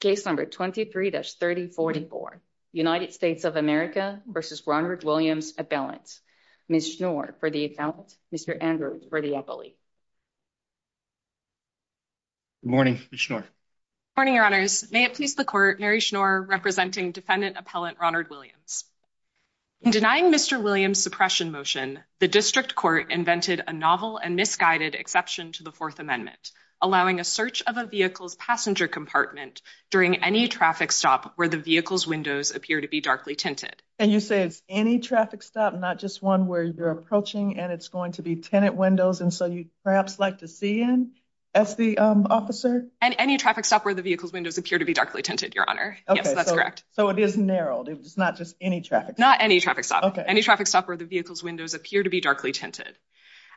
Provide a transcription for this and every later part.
Case number 23-3044, United States of America v. Ronnard Williams Appellant, Ms. Schnoor for the Appellant, Mr. Andrews for the Appellant. Good morning, Ms. Schnoor. Good morning, Your Honors. May it please the Court, Mary Schnoor representing Defendant Appellant Ronnard Williams. In denying Mr. Williams' suppression motion, the District Court invented a novel and misguided exception to the Fourth Amendment, allowing a search of a vehicle's passenger compartment during any traffic stop where the vehicle's windows appear to be darkly tinted. And you say it's any traffic stop, not just one where you're approaching and it's going to be tenant windows, and so you'd perhaps like to see in, as the officer? And any traffic stop where the vehicle's windows appear to be darkly tinted, Your Honor. Yes, that's correct. Okay, so it is narrowed. It's not just any traffic stop. Not any traffic stop. Any traffic stop where the vehicle's windows appear to be darkly tinted.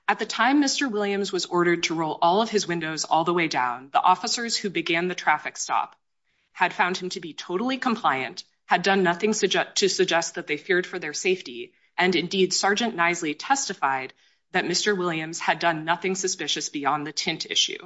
At the time Mr. Williams was ordered to roll all of his windows all the way down, the officers who began the traffic stop had found him to be totally compliant, had done nothing to suggest that they feared for their safety, and indeed, Sergeant Knisely testified that Mr. Williams had done nothing suspicious beyond the tint issue.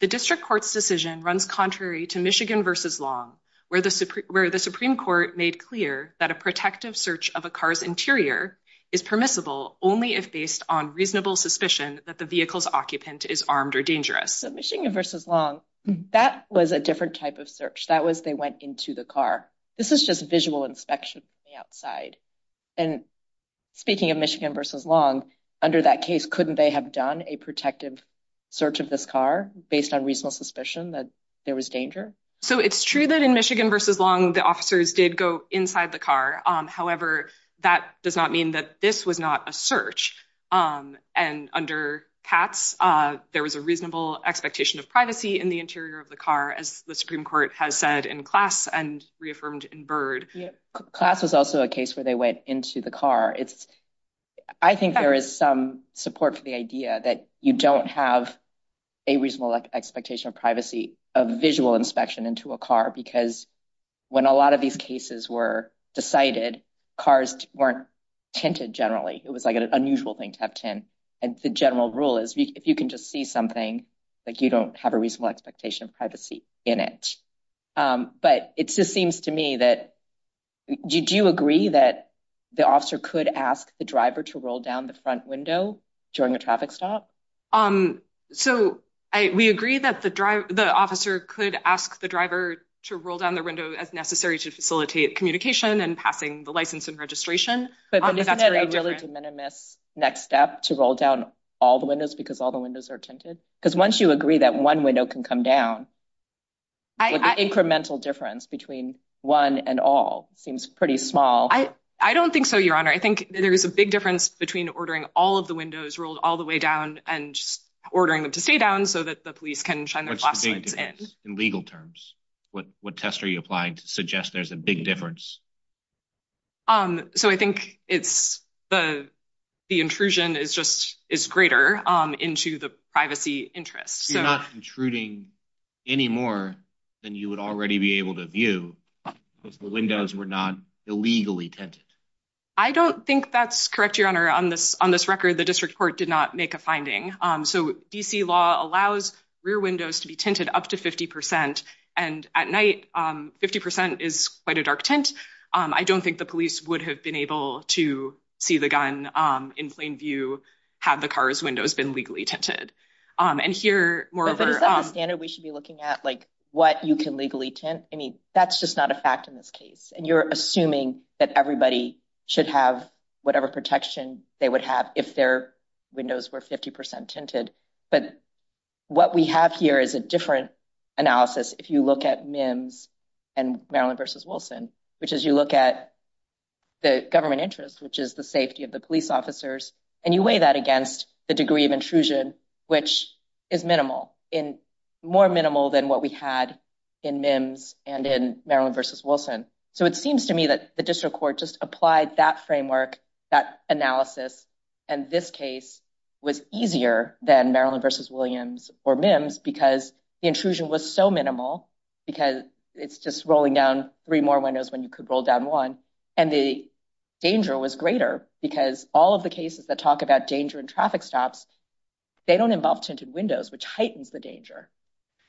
The District Court's decision runs contrary to Michigan v. Long, where the Supreme Court made clear that a protective search of a car's interior is permissible only if based on reasonable suspicion that the vehicle's occupant is armed or dangerous. So Michigan v. Long, that was a different type of search. That was they went into the car. This is just visual inspection from the outside. And speaking of Michigan v. Long, under that case, couldn't they have done a protective search of this car based on reasonable suspicion that there was danger? So it's true that in Michigan v. Long, the officers did go inside the car. However, that does not mean that this was not a search. And under Katz, there was a reasonable expectation of privacy in the interior of the car, as the Supreme Court has said in Klaas and reaffirmed in Byrd. Klaas was also a case where they went into the car. I think there is some support for the idea that you don't have a reasonable expectation of privacy of visual inspection into a car, because when a lot of these cases were decided, cars weren't tinted generally. It was like an unusual thing to have tint. And the general rule is if you can just see something, you don't have a reasonable expectation of privacy in it. But it just seems to me that, do you agree that the officer could ask the driver to roll down the front window during a traffic stop? So we agree that the officer could ask the driver to roll down the window as necessary to facilitate communication and passing the license and registration. But isn't that a really de minimis next step, to roll down all the windows because all the windows are tinted? Because once you agree that one window can come down, the incremental difference between one and all seems pretty small. I don't think so, Your Honor. I think there is a big difference between ordering all of the windows rolled all the way down and just ordering them to stay down so that the police can shine the flashlights in. What's the big difference in legal terms? What test are you applying to suggest there's a big difference? So I think the intrusion is greater into the privacy interest. You're not intruding any more than you would already be able to view, because the windows were not illegally tinted. I don't think that's correct, Your Honor. On this record, the district court did not make a finding. So D.C. law allows rear windows to be tinted up to 50 percent. And at night, 50 percent is quite a dark tint. I don't think the police would have been able to see the gun in plain view had the car's windows been legally tinted. And here, moreover... But is that the standard we should be looking at, like what you can legally tint? I mean, that's just not a fact in this case. And you're assuming that everybody should have whatever protection they would have if their windows were 50 percent tinted. But what we have here is a different analysis if you look at MIMS and Maryland v. Wilson, which is you look at the government interest, which is the safety of the police officers, and you weigh that against the degree of intrusion, which is minimal, more minimal than what we had in MIMS and in Maryland v. Wilson. So it seems to me that the district court just applied that framework, that analysis, and this case was easier than Maryland v. Williams or MIMS because the intrusion was so minimal because it's just rolling down three more windows when you could roll down one. And the danger was greater because all of the cases that talk about danger and traffic stops, they don't involve tinted windows, which heightens the danger.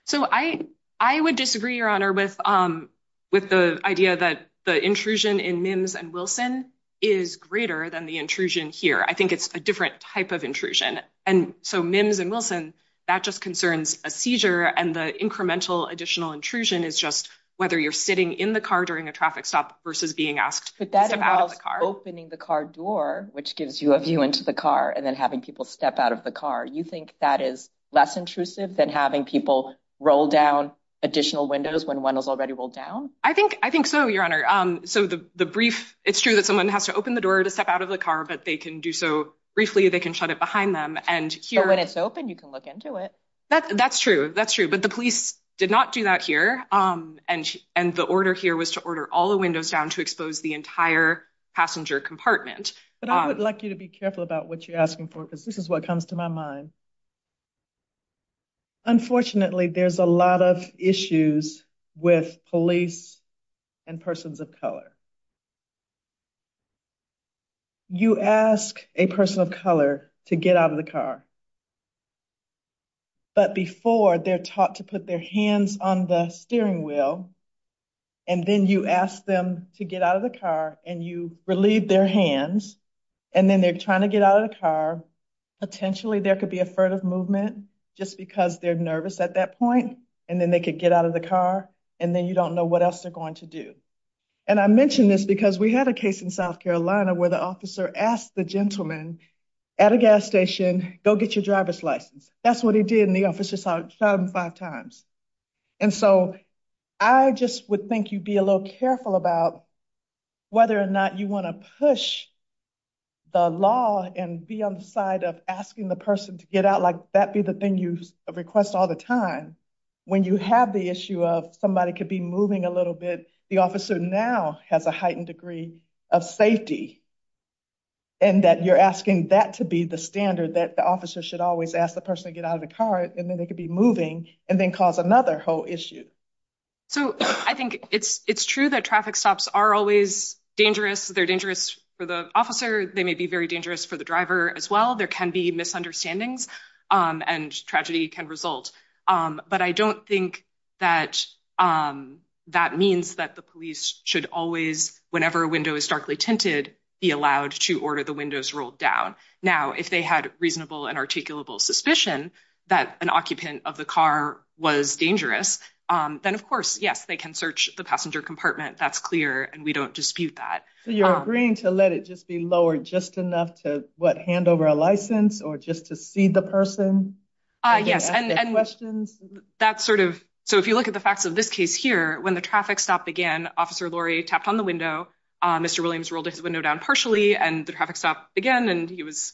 So I would disagree, Your Honor, with the idea that the intrusion in MIMS and Wilson is greater than the intrusion here. I think it's a different type of intrusion. And so MIMS and Wilson, that just concerns a seizure. And the incremental additional intrusion is just whether you're sitting in the car during a traffic stop versus being asked to step out of the car. But that involves opening the car door, which gives you a view into the car, and then having people step out of the car. You think that is less intrusive than having people roll down additional windows when one is already rolled down? I think so, Your Honor. So the brief, it's true that someone has to open the door to step out of the car, but they can do so briefly. They can shut it behind them. And when it's open, you can look into it. That's true. That's true. But the police did not do that here. And the order here was to order all the windows down to expose the entire passenger compartment. But I would like you to be careful about what you're asking for, because this is what comes to my mind. Unfortunately, there's a lot of issues with police and persons of color. You ask a person of color to get out of the car, but before, they're taught to put their hands on the steering wheel. And then you ask them to get out of the car, and you relieve their hands. And then they're trying to get out of the car. Potentially, there could be a furtive movement just because they're nervous at that point. And then they could get out of the car, and then you don't know what else they're going to do. And I mention this because we had a case in South Carolina where the officer asked the gentleman at a gas station, go get your driver's license. That's what he did, and the officer shot him five times. And so I just would think you'd be a little careful about whether or not you want to push the law and be on the side of asking the person to get out, like that be the thing you request all the time. When you have the issue of somebody could be moving a little bit, the officer now has a heightened degree of safety, and that you're asking that to be the standard, that the officer should always ask the person to get out of the car, and then they could be moving, and then cause another whole issue. So I think it's true that traffic stops are always dangerous. They're dangerous for the officer. They may be very dangerous for the driver as well. There can be misunderstandings, and tragedy can result. But I don't think that that means that the police should always, whenever a window is starkly tinted, be allowed to order the windows rolled down. Now, if they had reasonable and articulable suspicion that an occupant of the car was dangerous, then of course, yes, they can search the passenger compartment. That's clear, and we don't dispute that. So you're agreeing to let it just be lowered just enough to, what, hand over a license or just to see the person? Yes, and that's sort of, so if you look at the facts of this case here, when the traffic stop began, Officer Laurie tapped on the window, Mr. Williams rolled his window down partially, and the traffic stopped again, and he was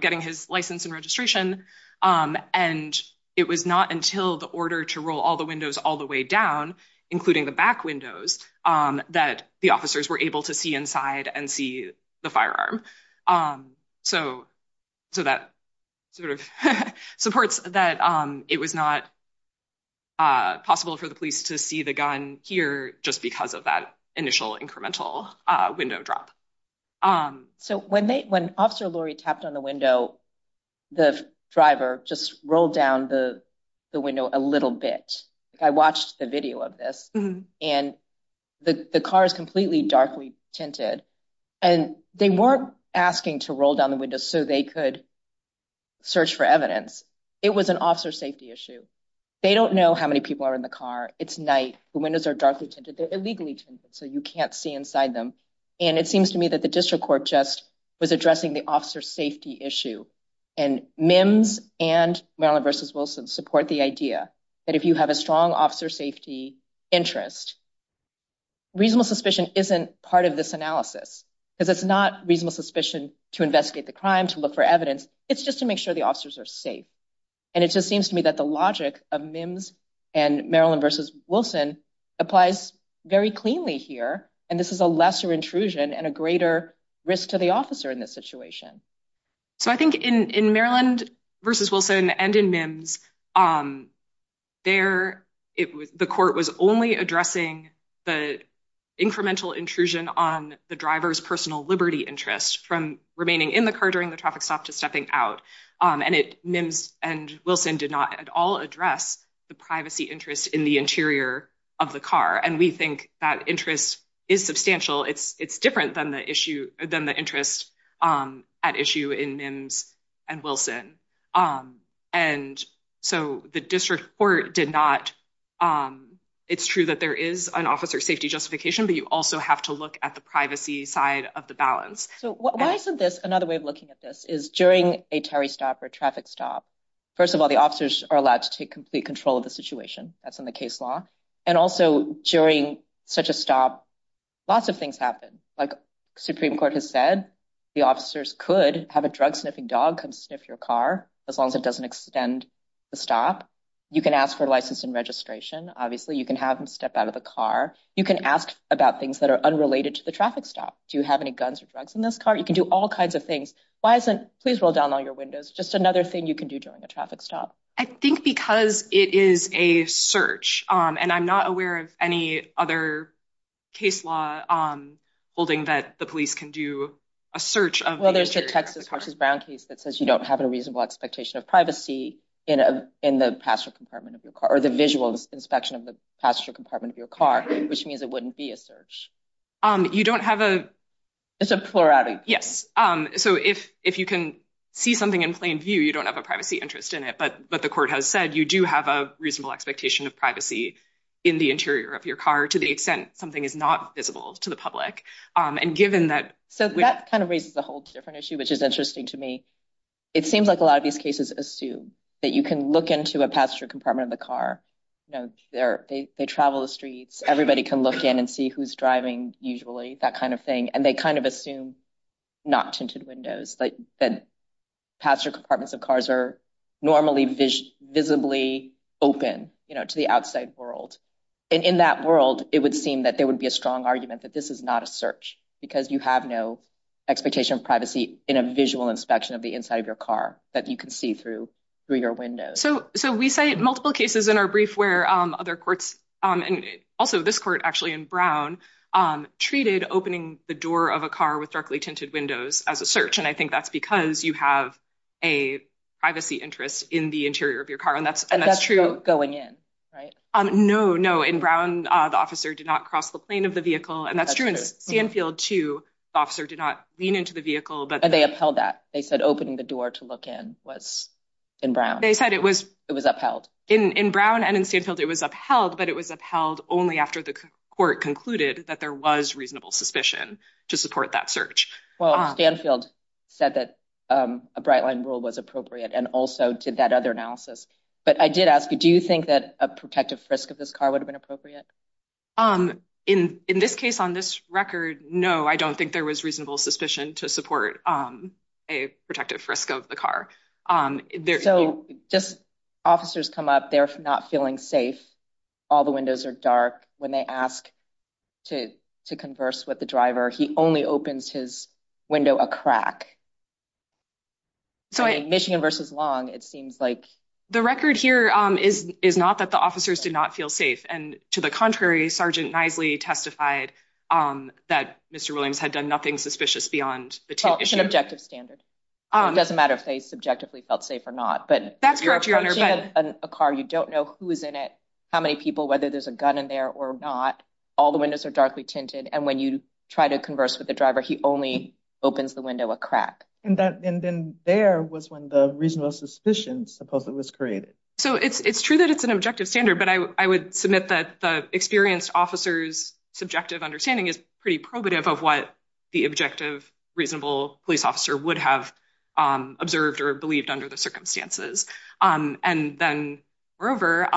getting his license and registration. And it was not until the order to roll all the windows all the way down, including the back windows, that the officers were able to see inside and see the firearm. So that sort of supports that it was not possible for the police to see the gun here just because of that initial incremental window drop. So when Officer Laurie tapped on the window, the driver just rolled down the window a little bit. I watched the video of this, and the car is completely darkly tinted, and they weren't asking to roll down the window so they could search for evidence. It was an officer safety issue. They don't know how many people are in the car. It's night. The windows are darkly tinted. They're illegally tinted, so you can't see inside them. And it seems to me that the district court just was addressing the officer safety issue, and MIMS and Maryland v. Wilson support the idea that if you have a strong officer safety interest, reasonable suspicion isn't part of this analysis, because it's not reasonable suspicion to investigate the crime, to look for evidence. It's just to make sure the officers are safe, and it just seems to me that the logic of MIMS and Maryland v. Wilson applies very cleanly here, and this is a lesser intrusion and a greater risk to the officer in this situation. So I think in Maryland v. Wilson and in MIMS, the court was only addressing the incremental intrusion on the driver's personal liberty interest from remaining in the car during the traffic stop to stepping out. And MIMS and Wilson did not at all address the privacy interest in the interior of the car, and we think that interest is substantial. It's different than the interest at issue in MIMS and Wilson. And so the district court did not... It's true that there is an officer safety justification, but you also have to look at the privacy side of the balance. So why isn't this another way of looking at this, is during a tarry stop or a traffic stop, first of all, the officers are allowed to take complete control of the situation. That's in the case law. And also during such a stop, lots of things happen. Like Supreme Court has said, the officers could have a drug-sniffing dog come sniff your car, as long as it doesn't extend the stop. You can ask for license and registration, obviously. You can have them step out of the car. You can ask about things that are unrelated to the traffic stop. Do you have any guns or drugs in this car? You can do all kinds of things. Why isn't... Please roll down all your windows. Just another thing you can do during a traffic stop. I think because it is a search, and I'm not aware of any other case law holding that the police can do a search of the interior of the car. Well, there's the Texas versus Brown case that says you don't have a reasonable expectation of privacy in the passenger compartment of your car, or the visual inspection of the passenger compartment of your car, which means it wouldn't be a search. You don't have a... It's a plurality. Yes. So, if you can see something in plain view, you don't have a privacy interest in it, but the court has said you do have a reasonable expectation of privacy in the interior of your car to the extent something is not visible to the public. And given that... So, that kind of raises a whole different issue, which is interesting to me. It seems like a lot of these cases assume that you can look into a passenger compartment of the car. You know, they travel the streets. Everybody can look in and see who's driving usually, that kind of thing. And they kind of assume not tinted windows, that passenger compartments of cars are normally visibly open, you know, to the outside world. And in that world, it would seem that there would be a strong argument that this is not a search, because you have no expectation of privacy in a visual inspection of the inside of your car that you can see through your window. So, we cite multiple cases in our brief where other courts, and also this court actually in Brown, treated opening the door of a car with darkly tinted windows as a search. And I think that's because you have a privacy interest in the interior of your car. And that's true. And that's not going in, right? No, no. In Brown, the officer did not cross the plane of the vehicle. And that's true in Sandfield, too. The officer did not lean into the vehicle. And they upheld that. They said opening the door to look in was, in Brown. It was upheld. In Brown and in Sandfield, it was upheld, but it was upheld only after the court concluded that there was reasonable suspicion to support that search. Well, Sandfield said that a bright line rule was appropriate and also did that other analysis. But I did ask you, do you think that a protective frisk of this car would have been appropriate? In this case, on this record, no, I don't think there was reasonable suspicion to support a protective frisk of the car. So just officers come up, they're not feeling safe. All the windows are dark. When they ask to converse with the driver, he only opens his window a crack. So in Michigan versus Long, it seems like... The record here is not that the officers did not feel safe. And to the contrary, Sergeant Knisely testified that Mr. Williams had done nothing suspicious beyond the tip issue. Well, it's an objective standard. It doesn't matter if they subjectively felt safe or not. But you're approaching a car, you don't know who is in it, how many people, whether there's a gun in there or not. All the windows are darkly tinted. And when you try to converse with the driver, he only opens the window a crack. And then there was when the reasonable suspicion supposedly was created. So it's true that it's an objective standard, but I would submit that the experienced officer's subjective understanding is pretty probative of what the objective, reasonable police officer would have observed or believed under the circumstances. And then, moreover,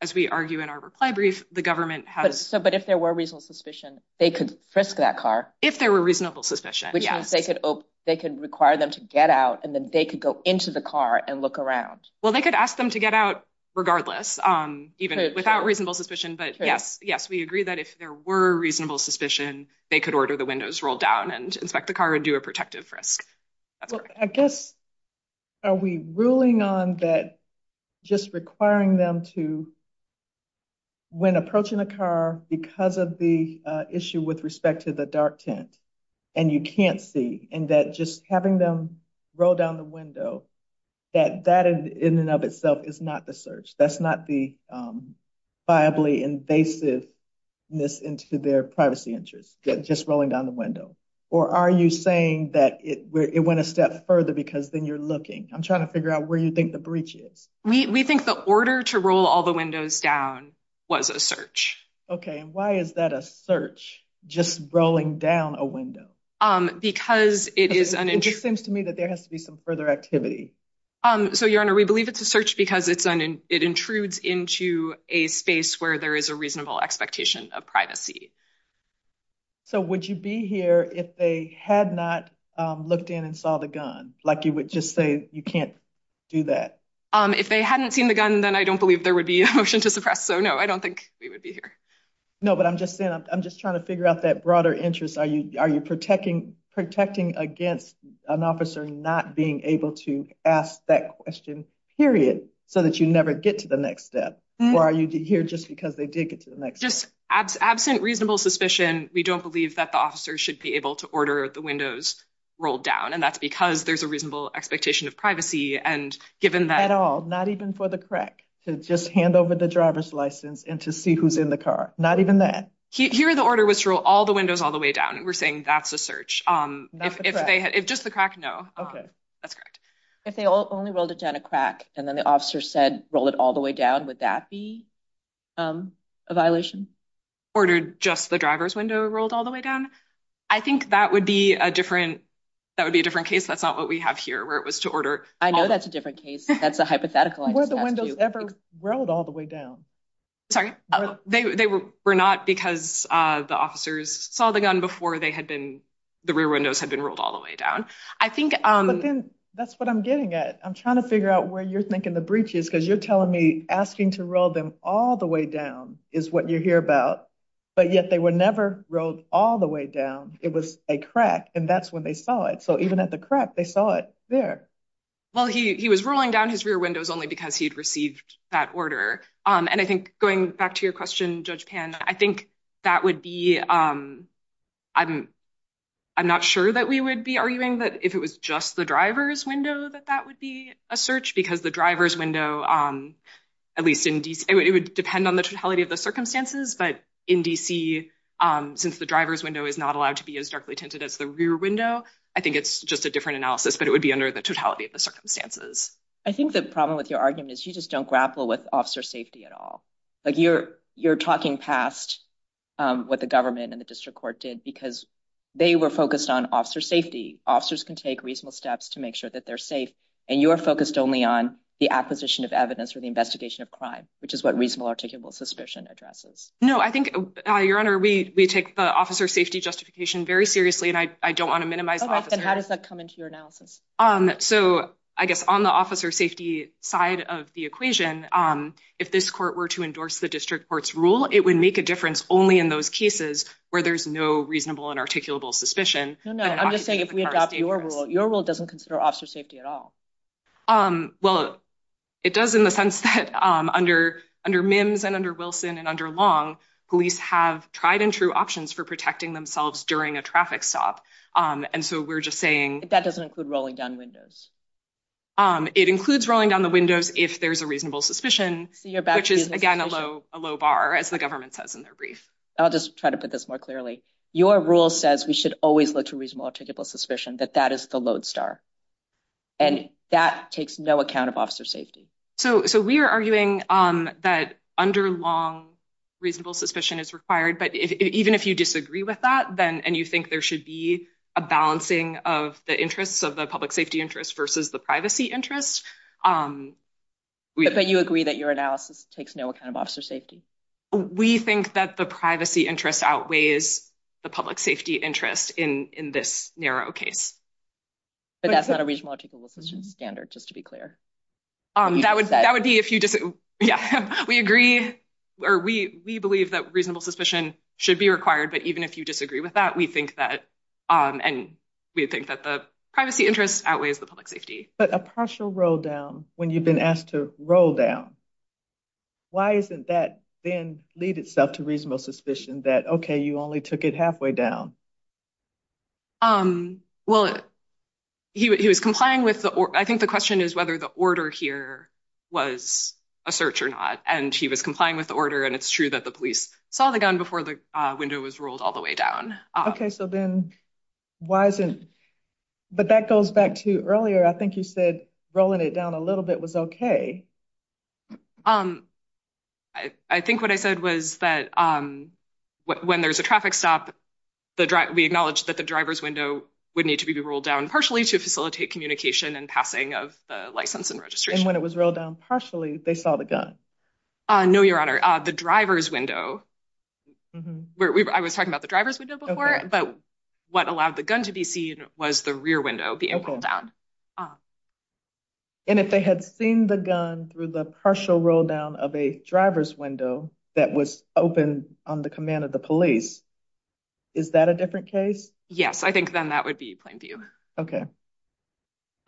as we argue in our reply brief, the government has... But if there were reasonable suspicion, they could frisk that car. If there were reasonable suspicion, yes. Which means they could require them to get out and then they could go into the car and look around. Well, they could ask them to get out regardless, even without reasonable suspicion. But yes, we agree that if there were reasonable suspicion, they could order the windows rolled down and inspect the car and do a protective frisk. That's correct. Well, I guess, are we ruling on that just requiring them to, when approaching a car because of the issue with respect to the dark tint, and you can't see, and that just having them roll down the window, that that in and of itself is not the search. That's not the viably invasiveness into their privacy interest, just rolling down the window. Or are you saying that it went a step further because then you're looking? I'm trying to figure out where you think the breach is. We think the order to roll all the windows down was a search. Okay. And why is that a search, just rolling down a window? Because it is an... It just seems to me that there has to be some further activity. So Your Honor, we believe it's a search because it intrudes into a space where there is a reasonable expectation of privacy. So would you be here if they had not looked in and saw the gun? Like you would just say, you can't do that? If they hadn't seen the gun, then I don't believe there would be a motion to suppress. So no, I don't think we would be here. No, but I'm just saying, I'm just trying to figure out that broader interest. Are you protecting against an officer not being able to ask that question, period, so that you never get to the next step? Or are you here just because they did get to the next step? Just absent reasonable suspicion, we don't believe that the officer should be able to order the windows rolled down. And that's because there's a reasonable expectation of privacy. And given that... At all, not even for the crack, to just hand over the driver's license and to see who's in the car. Not even that. Here, the order was to roll all the windows all the way down, and we're saying that's a search. Not the crack. If just the crack, no. Okay. That's correct. If they only rolled it down a crack, and then the officer said, roll it all the way down, would that be a violation? Ordered just the driver's window rolled all the way down? I think that would be a different case. That's not what we have here, where it was to order... I know that's a different case. That's a hypothetical. Were the windows ever rolled all the way down? Sorry? They were not, because the officers saw the gun before the rear windows had been rolled all the way down. I think... But then, that's what I'm getting at. I'm trying to figure out where you're thinking the breach is, because you're telling me, asking to roll them all the way down is what you hear about, but yet they were never rolled all the way down. It was a crack, and that's when they saw it. So even at the crack, they saw it there. Well, he was rolling down his rear windows only because he'd received that order. And I think, going back to your question, Judge Pan, I think that would be... I'm not sure that we would be arguing that if it was just the driver's window that that would be a search, because the driver's window, at least in D.C., it would depend on the totality of the circumstances, but in D.C., since the driver's window is not allowed to be as darkly tinted as the rear window, I think it's just a different analysis, but it would be under the totality of the circumstances. I think the problem with your argument is you just don't grapple with officer safety at all. You're talking past what the government and the district court did, because they were focused on officer safety. Officers can take reasonable steps to make sure that they're safe, and you're focused only on the acquisition of evidence or the investigation of crime, which is what reasonable articulable suspicion addresses. No. I think, Your Honor, we take the officer safety justification very seriously, and I don't want to minimize the officer. How often does that come into your analysis? So I guess on the officer safety side of the equation, if this court were to endorse the district court's rule, it would make a difference only in those cases where there's no reasonable and articulable suspicion. No, no. I'm just saying if we adopt your rule, your rule doesn't consider officer safety at all. Well, it does in the sense that under Mims and under Wilson and under Long, police have tried and true options for protecting themselves during a traffic stop. And so we're just saying- That doesn't include rolling down windows. It includes rolling down the windows if there's a reasonable suspicion, which is, again, a low bar, as the government says in their brief. I'll just try to put this more clearly. Your rule says we should always look to reasonable and articulable suspicion, that that is the lodestar. And that takes no account of officer safety. So we are arguing that under Long, reasonable suspicion is required. But even if you disagree with that, and you think there should be a balancing of the interests of the public safety interest versus the privacy interest- But you agree that your analysis takes no account of officer safety? We think that the privacy interest outweighs the public safety interest in this narrow case. But that's not a reasonable articulable suspicion standard, just to be clear. That would be if you disagree. We agree or we believe that reasonable suspicion should be required. But even if you disagree with that, we think that and we think that the privacy interest outweighs the public safety. But a partial roll down when you've been asked to roll down. Why isn't that then lead itself to reasonable suspicion that, OK, you only took it halfway down? Um, well, he was complying with the I think the question is whether the order here was a search or not. And he was complying with the order. And it's true that the police saw the gun before the window was rolled all the way down. OK, so then why isn't. But that goes back to earlier, I think you said rolling it down a little bit was OK. Um, I think what I said was that when there's a traffic stop, we acknowledge that the driver's window would need to be rolled down partially to facilitate communication and passing of the license and registration when it was rolled down partially. They saw the gun. No, Your Honor, the driver's window where I was talking about the driver's window before. But what allowed the gun to be seen was the rear window being pulled down. And if they had seen the gun through the partial roll down of a driver's window that was open on the command of the police, is that a different case? Yes, I think then that would be plain view. OK.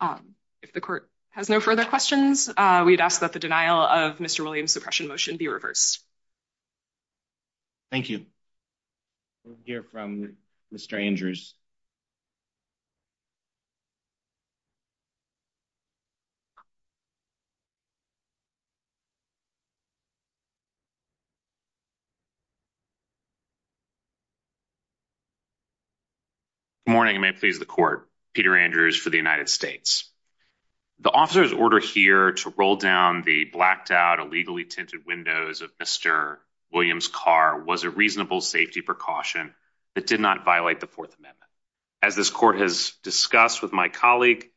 Um, if the court has no further questions, we'd ask that the denial of Mr. Williams suppression motion be reversed. Thank you. We'll hear from Mr. Andrews. Good morning, and may it please the court. Peter Andrews for the United States. The officer's order here to roll down the blacked out, illegally tinted windows of Mr. Williams' car was a reasonable safety precaution that did not violate the Fourth Amendment. As this court has discussed with my colleague,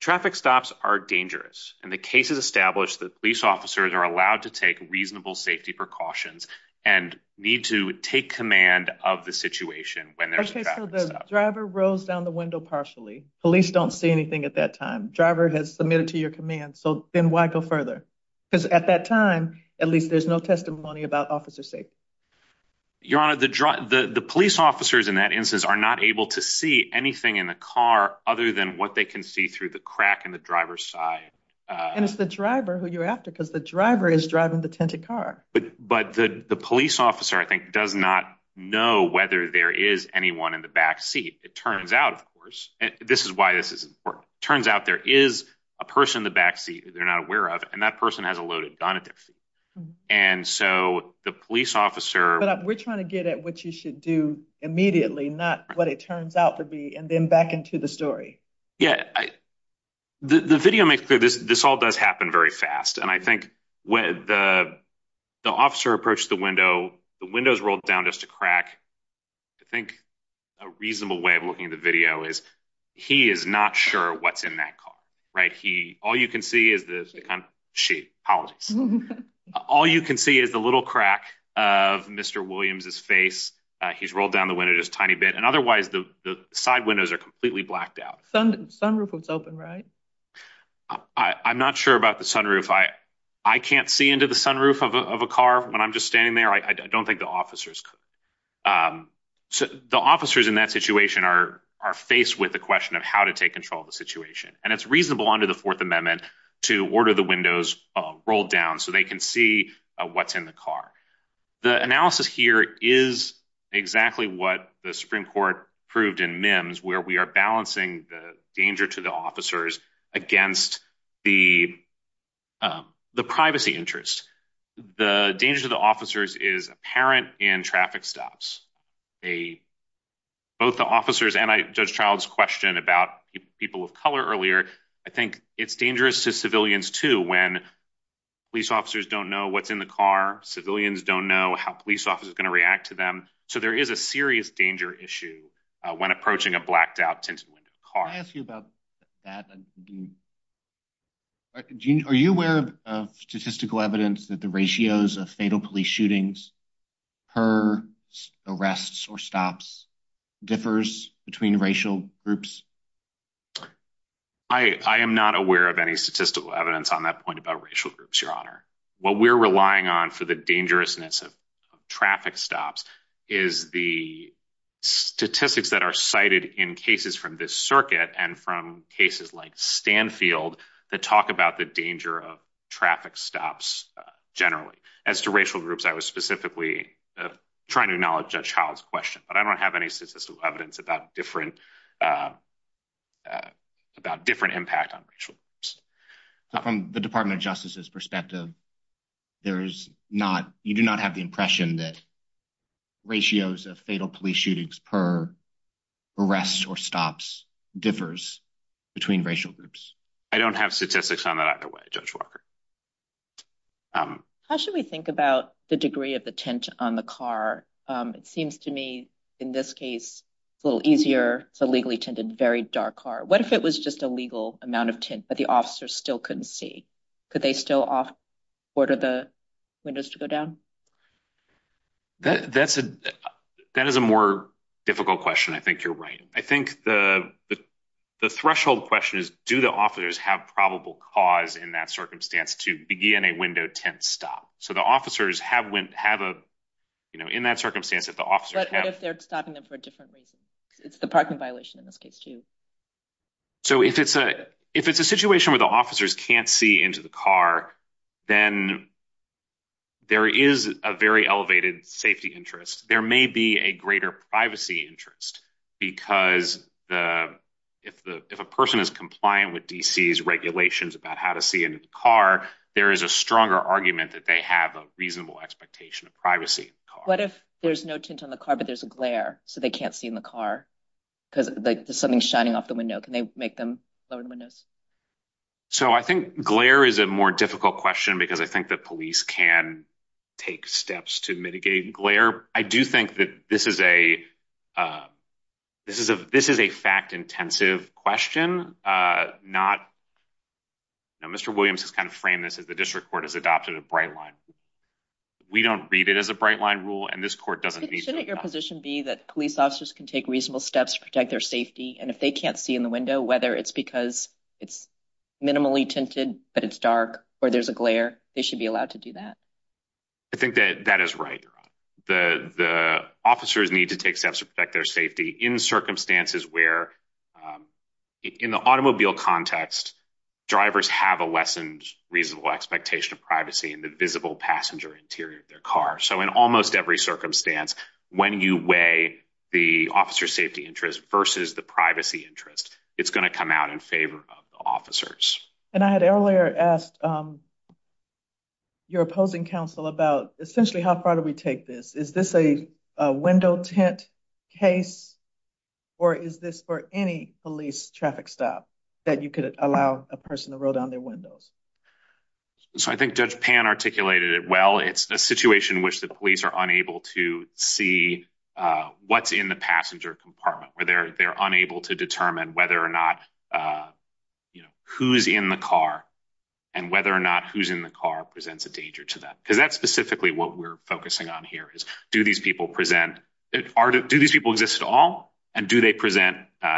traffic stops are dangerous, and the case has established that police officers are allowed to take reasonable safety precautions and need to take command of the situation when there's a traffic stop. OK, so the driver rose down the window partially. Police don't see anything at that time. Driver has submitted to your command, so then why go further? Because at that time, at least there's no testimony about officer safety. Your Honor, the police officers in that instance are not able to see anything in the car other than what they can see through the crack in the driver's side. And it's the driver who you're after, because the driver is driving the tinted car. But the police officer, I think, does not know whether there is anyone in the back seat. It turns out, of course, this is why this is important, turns out there is a person in the back seat they're not aware of, and that person has a loaded gun at their feet. And so the police officer- But we're trying to get at what you should do immediately, not what it turns out to be, and then back into the story. Yeah, the video makes clear this all does happen very fast. And I think when the officer approached the window, the window's rolled down just a crack. I think a reasonable way of looking at the video is he is not sure what's in that car, right? All you can see is the- She. She. All you can see is the little crack of Mr. Williams's face. He's rolled down the window just a tiny bit, and otherwise the side windows are completely blacked out. Sunroof was open, right? I'm not sure about the sunroof. I can't see into the sunroof of a car when I'm just standing there. I don't think the officers could. The officers in that situation are faced with the question of how to take control of the situation. And it's reasonable under the Fourth Amendment to order the windows rolled down so they can see what's in the car. The analysis here is exactly what the Supreme Court proved in MIMS, where we are balancing the danger to the officers against the privacy interest. The danger to the officers is apparent in traffic stops. Both the officers and Judge Child's question about people of color earlier, I think it's dangerous to civilians, too, when police officers don't know what's in the car. Civilians don't know how police officers are going to react to them. So there is a serious danger issue when approaching a blacked out tinted window car. Can I ask you about that? Are you aware of statistical evidence that the ratios of fatal police shootings per arrests or stops differs between racial groups? I am not aware of any statistical evidence on that point about racial groups, Your Honor. What we're relying on for the dangerousness of traffic stops is the statistics that are cited in cases from this circuit and from cases like Stanfield that talk about the danger of traffic stops generally. As to racial groups, I was specifically trying to acknowledge Judge Child's question, but I don't have any statistical evidence about different impact on racial groups. From the Department of Justice's perspective, you do not have the impression that ratios of fatal police shootings per arrests or stops differs between racial groups. I don't have statistics on that either way, Judge Walker. How should we think about the degree of the tint on the car? It seems to me in this case, it's a little easier, it's a legally tinted, very dark car. What if it was just a legal amount of tint, but the officers still couldn't see? Could they still order the windows to go down? That is a more difficult question. I think you're right. I think the threshold question is, do the officers have probable cause in that circumstance to begin a window tint stop? So the officers have, in that circumstance, if the officers have- But what if they're stopping them for a different reason? It's the parking violation in this case too. So if it's a situation where the officers can't see into the car, then there is a very elevated safety interest. There may be a greater privacy interest, because if a person is compliant with DC's regulations about how to see in a car, there is a stronger argument that they have a reasonable expectation of privacy in the car. What if there's no tint on the car, but there's a glare, so they can't see in the car? Because there's something shining off the window. Can they make them lower the windows? So I think glare is a more difficult question, because I think the police can take steps to mitigate glare. I do think that this is a fact-intensive question. Mr. Williams has kind of framed this as the district court has adopted a bright line. We don't read it as a bright line rule, and this court doesn't need to adopt it. Shouldn't your position be that police officers can take reasonable steps to protect their safety, and if they can't see in the window, whether it's because it's minimally tinted, but it's dark, or there's a glare, they should be allowed to do that? I think that that is right. The officers need to take steps to protect their safety in circumstances where, in the automobile context, drivers have a less than reasonable expectation of privacy in the visible passenger interior of their car. So in almost every circumstance, when you weigh the officer's safety interest versus the privacy interest, it's going to come out in favor of the officers. And I had earlier asked your opposing counsel about, essentially, how far do we take this? Is this a window tint case, or is this for any police traffic stop that you could allow a person to roll down their windows? So I think Judge Pan articulated it well. It's a situation in which the police are unable to see what's in the passenger compartment, where they're unable to determine whether or not who's in the car, and whether or not who's in the car presents a danger to them. Because that's specifically what we're focusing on here, is do these people exist at all, and do they present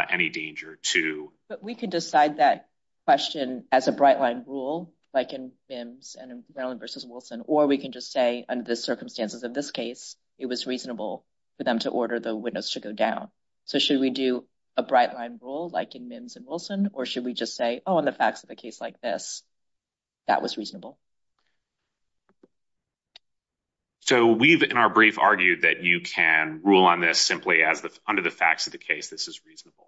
any danger to... But we could decide that question as a bright-line rule, like in VIMS and in Merlin v. Wilson, or we can just say, under the circumstances of this case, it was reasonable for them to order the windows to go down. So should we do a bright-line rule, like in VIMS and Wilson, or should we just say, oh, in the facts of a case like this, that was reasonable? So we've, in our brief, argued that you can rule on this simply as, under the facts of the case, this is reasonable.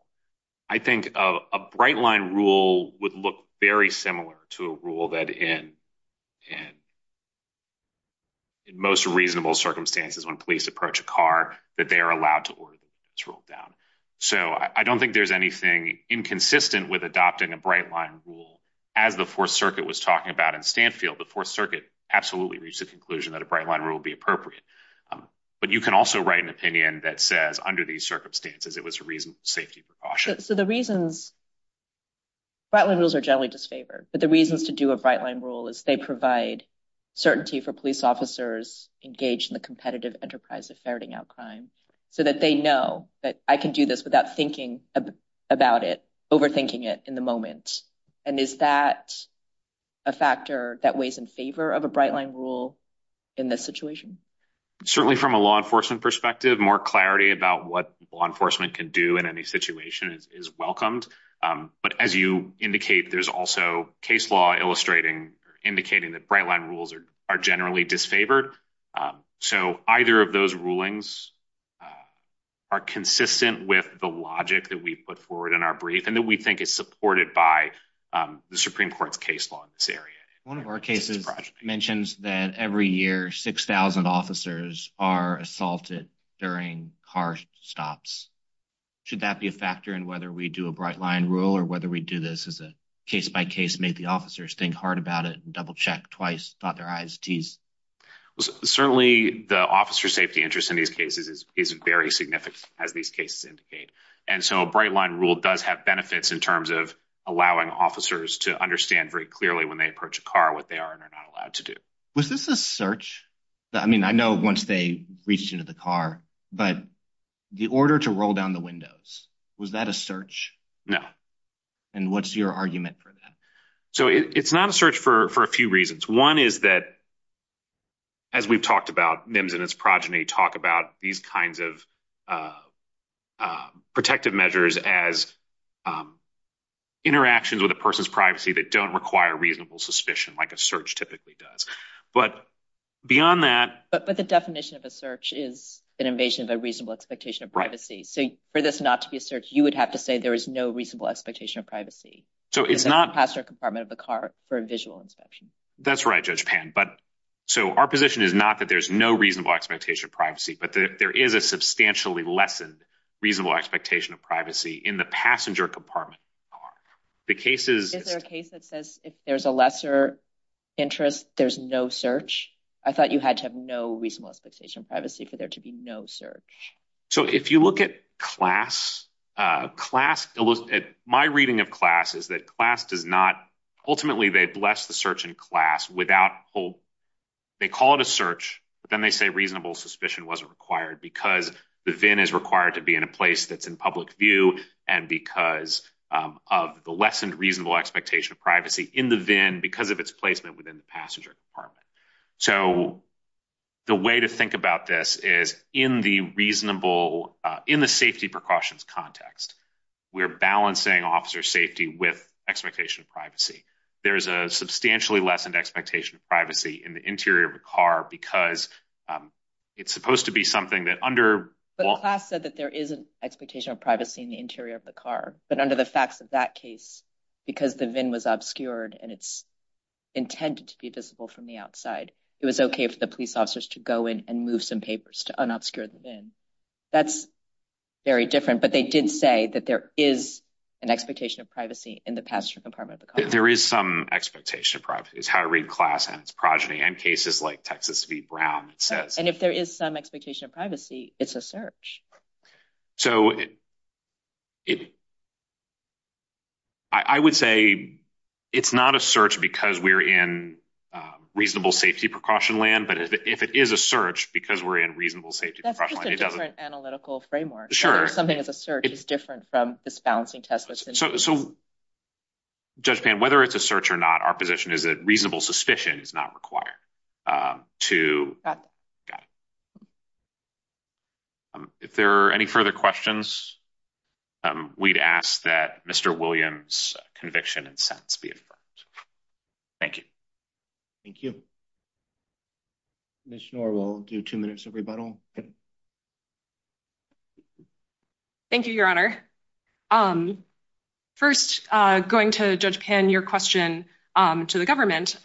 I think a bright-line rule would look very similar to a rule that, in most reasonable circumstances when police approach a car, that they are allowed to order the windows rolled down. So I don't think there's anything inconsistent with adopting a bright-line rule. As the Fourth Circuit was talking about in Stanfield, the Fourth Circuit absolutely reached the conclusion that a bright-line rule would be appropriate. But you can also write an opinion that says, under these circumstances, it was a reasonable safety precaution. So the reasons, bright-line rules are generally disfavored, but the reasons to do a bright-line rule is they provide certainty for police officers engaged in the competitive enterprise of ferreting out crime so that they know that I can do this without thinking about it, overthinking it in the moment. And is that a factor that weighs in favor of a bright-line rule in this situation? Certainly from a law enforcement perspective, more clarity about what law enforcement can do in any situation is welcomed. But as you indicate, there's also case law illustrating or indicating that bright-line rules are generally disfavored. So either of those rulings are consistent with the logic that we put forward in our brief and that we think is supported by the Supreme Court's case law in this area. One of our cases mentions that every year 6,000 officers are assaulted during car stops. Should that be a factor in whether we do a bright-line rule or whether we do this as a case-by-case, make the officers think hard about it, double-check twice, dot their I's, T's? Certainly, the officer safety interest in these cases is very significant, as these cases indicate. And so a bright-line rule does have benefits in terms of allowing officers to understand very clearly when they approach a car what they are and are not allowed to do. Was this a search? I mean, I know once they reached into the car, but the order to roll down the windows, was that a search? No. And what's your argument for that? So it's not a search for a few reasons. One is that, as we've talked about, MIMS and its progeny talk about these kinds of protective measures as interactions with a person's privacy that don't require reasonable suspicion like a search typically does. But beyond that... But the definition of a search is an invasion of a reasonable expectation of privacy. So for this not to be a search, you would have to say there is no reasonable expectation of privacy in the passenger compartment of the car for a visual inspection. That's right, Judge Pan. So our position is not that there's no reasonable expectation of privacy, but that there is a substantially lessened reasonable expectation of privacy in the passenger compartment of Is there a case that says if there's a lesser interest, there's no search? I thought you had to have no reasonable expectation of privacy for there to be no search. So if you look at class, my reading of class is that class does not... Ultimately, they bless the search in class without... They call it a search, but then they say reasonable suspicion wasn't required because the VIN is required to be in a place that's in public view and because of the lessened reasonable expectation of privacy in the VIN because of its placement within the passenger compartment. So the way to think about this is in the safety precautions context, we're balancing officer safety with expectation of privacy. There's a substantially lessened expectation of privacy in the interior of a car because it's supposed to be something that under... But class said that there is an expectation of privacy in the interior of the car. But under the facts of that case, because the VIN was obscured and it's intended to be visible from the outside, it was okay for the police officers to go in and move some papers to unobscure the VIN. That's very different, but they did say that there is an expectation of privacy in the passenger compartment of the car. There is some expectation of privacy. It's how to read class and its progeny and cases like Texas v. Brown, it says. And if there is some expectation of privacy, it's a search. So I would say it's not a search because we're in reasonable safety precaution land, but if it is a search because we're in reasonable safety precaution land, it doesn't... That's just a different analytical framework. Sure. Something that's a search is different from this balancing test that's in... So Judge Pan, whether it's a search or not, our position is that reasonable suspicion is not required to... If there are any further questions, we'd ask that Mr. Williams' conviction and sentence be affirmed. Thank you. Thank you. Commissioner Orr, we'll do two minutes of rebuttal. Thank you, Your Honor. First, going to Judge Pan, your question to the government,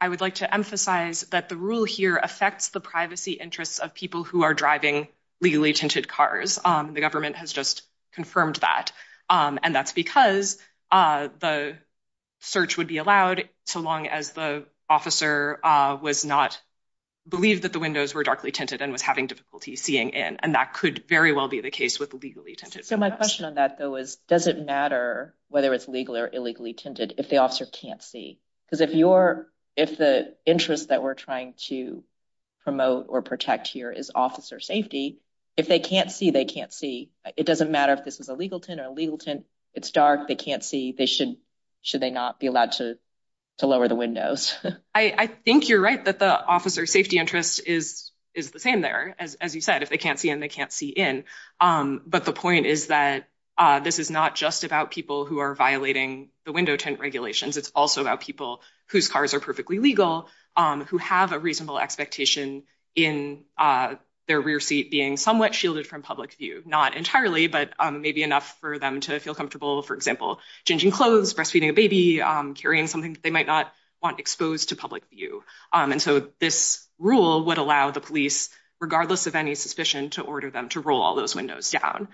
I would like to emphasize that the rule here affects the privacy interests of people who are driving legally tinted cars. The government has just confirmed that. And that's because the search would be allowed so long as the officer was not believed that the windows were darkly tinted and was having difficulty seeing in. And that could very well be the case with legally tinted windows. My question on that, though, is, does it matter whether it's legal or illegally tinted if the officer can't see? Because if the interest that we're trying to promote or protect here is officer safety, if they can't see, they can't see. It doesn't matter if this is a legal tint or a legal tint. It's dark. They can't see. Should they not be allowed to lower the windows? I think you're right that the officer safety interest is the same there, as you said. If they can't see in, they can't see in. But the point is that this is not just about people who are violating the window tint regulations. It's also about people whose cars are perfectly legal who have a reasonable expectation in their rear seat being somewhat shielded from public view. Not entirely, but maybe enough for them to feel comfortable, for example, changing clothes, breastfeeding a baby, carrying something that they might not want exposed to public view. And so this rule would allow the police, regardless of any suspicion, to order them to roll all those windows down.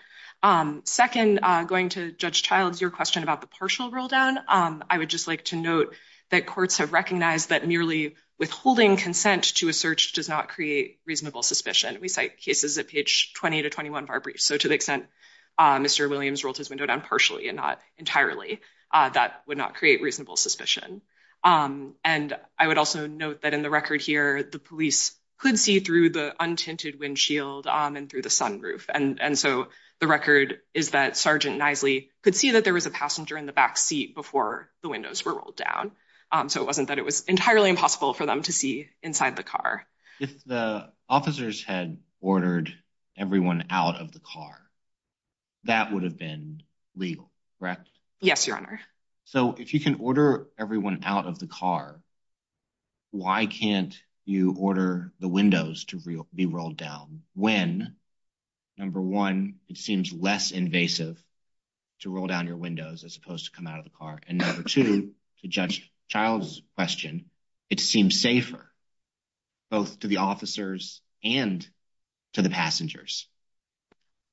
Second, going to Judge Childs, your question about the partial roll down, I would just like to note that courts have recognized that merely withholding consent to a search does not create reasonable suspicion. We cite cases at page 20 to 21 of our brief. So to the extent Mr. Williams rolled his window down partially and not entirely, that would not create reasonable suspicion. And I would also note that in the record here, the police could see through the untinted windshield and through the sunroof. And so the record is that Sergeant Knisely could see that there was a passenger in the back seat before the windows were rolled down. So it wasn't that it was entirely impossible for them to see inside the car. If the officers had ordered everyone out of the car, that would have been legal, correct? Yes, your honor. So if you can order everyone out of the car, why can't you order the windows to be rolled down when, number one, it seems less invasive to roll down your windows as opposed to come out of the car? And number two, to Judge Childs' question, it seems safer both to the officers and to the passengers.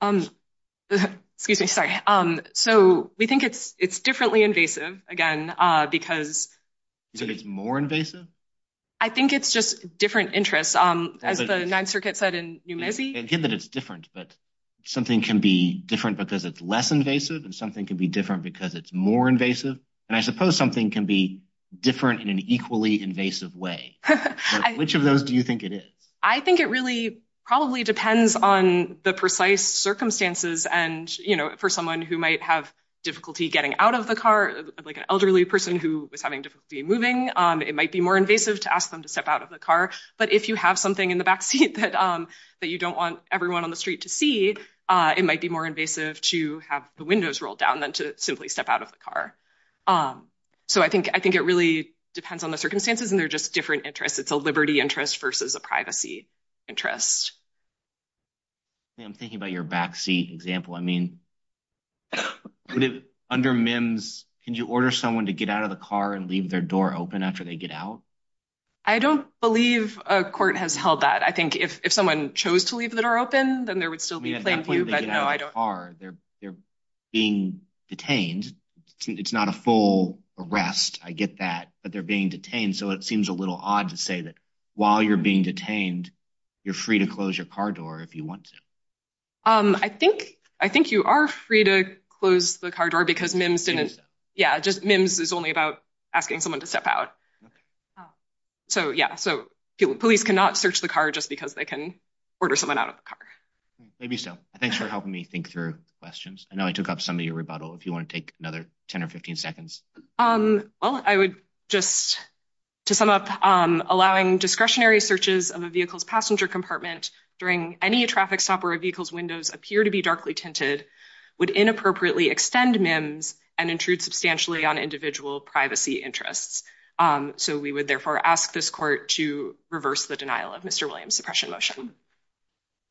Excuse me, sorry. So we think it's differently invasive, again, because... You think it's more invasive? I think it's just different interests. As the Ninth Circuit said in New Mesey... Again, that it's different, but something can be different because it's less invasive and something can be different because it's more invasive. And I suppose something can be different in an equally invasive way. Which of those do you think it is? I think it really probably depends on the precise circumstances. And for someone who might have difficulty getting out of the car, like an elderly person who was having difficulty moving, it might be more invasive to ask them to step out of the car. But if you have something in the backseat that you don't want everyone on the street to see, it might be more invasive to have the windows rolled down than to simply step out of the car. So I think it really depends on the circumstances and they're just different interests. It's a liberty interest versus a privacy interest. I'm thinking about your backseat example. I mean, under MIMS, can you order someone to get out of the car and leave their door open after they get out? I don't believe a court has held that. I think if someone chose to leave their door open, then there would still be plain view. But no, I don't think they're being detained. It's not a full arrest. I get that. But they're being detained. So it seems a little odd to say that while you're being detained, you're free to close your car door if you want to. I think you are free to close the car door because MIMS didn't. Yeah, just MIMS is only about asking someone to step out. So, yeah. So police cannot search the car just because they can order someone out of the car. Maybe so. Thanks for helping me think through questions. I know I took up some of your rebuttal. If you want to take another 10 or 15 seconds. Well, I would just to sum up, allowing discretionary searches of a vehicle's passenger compartment during any traffic stop where a vehicle's windows appear to be darkly tinted would inappropriately extend MIMS and intrude substantially on individual privacy interests. So we would therefore ask this court to reverse the denial of Mr. Williams' suppression motion.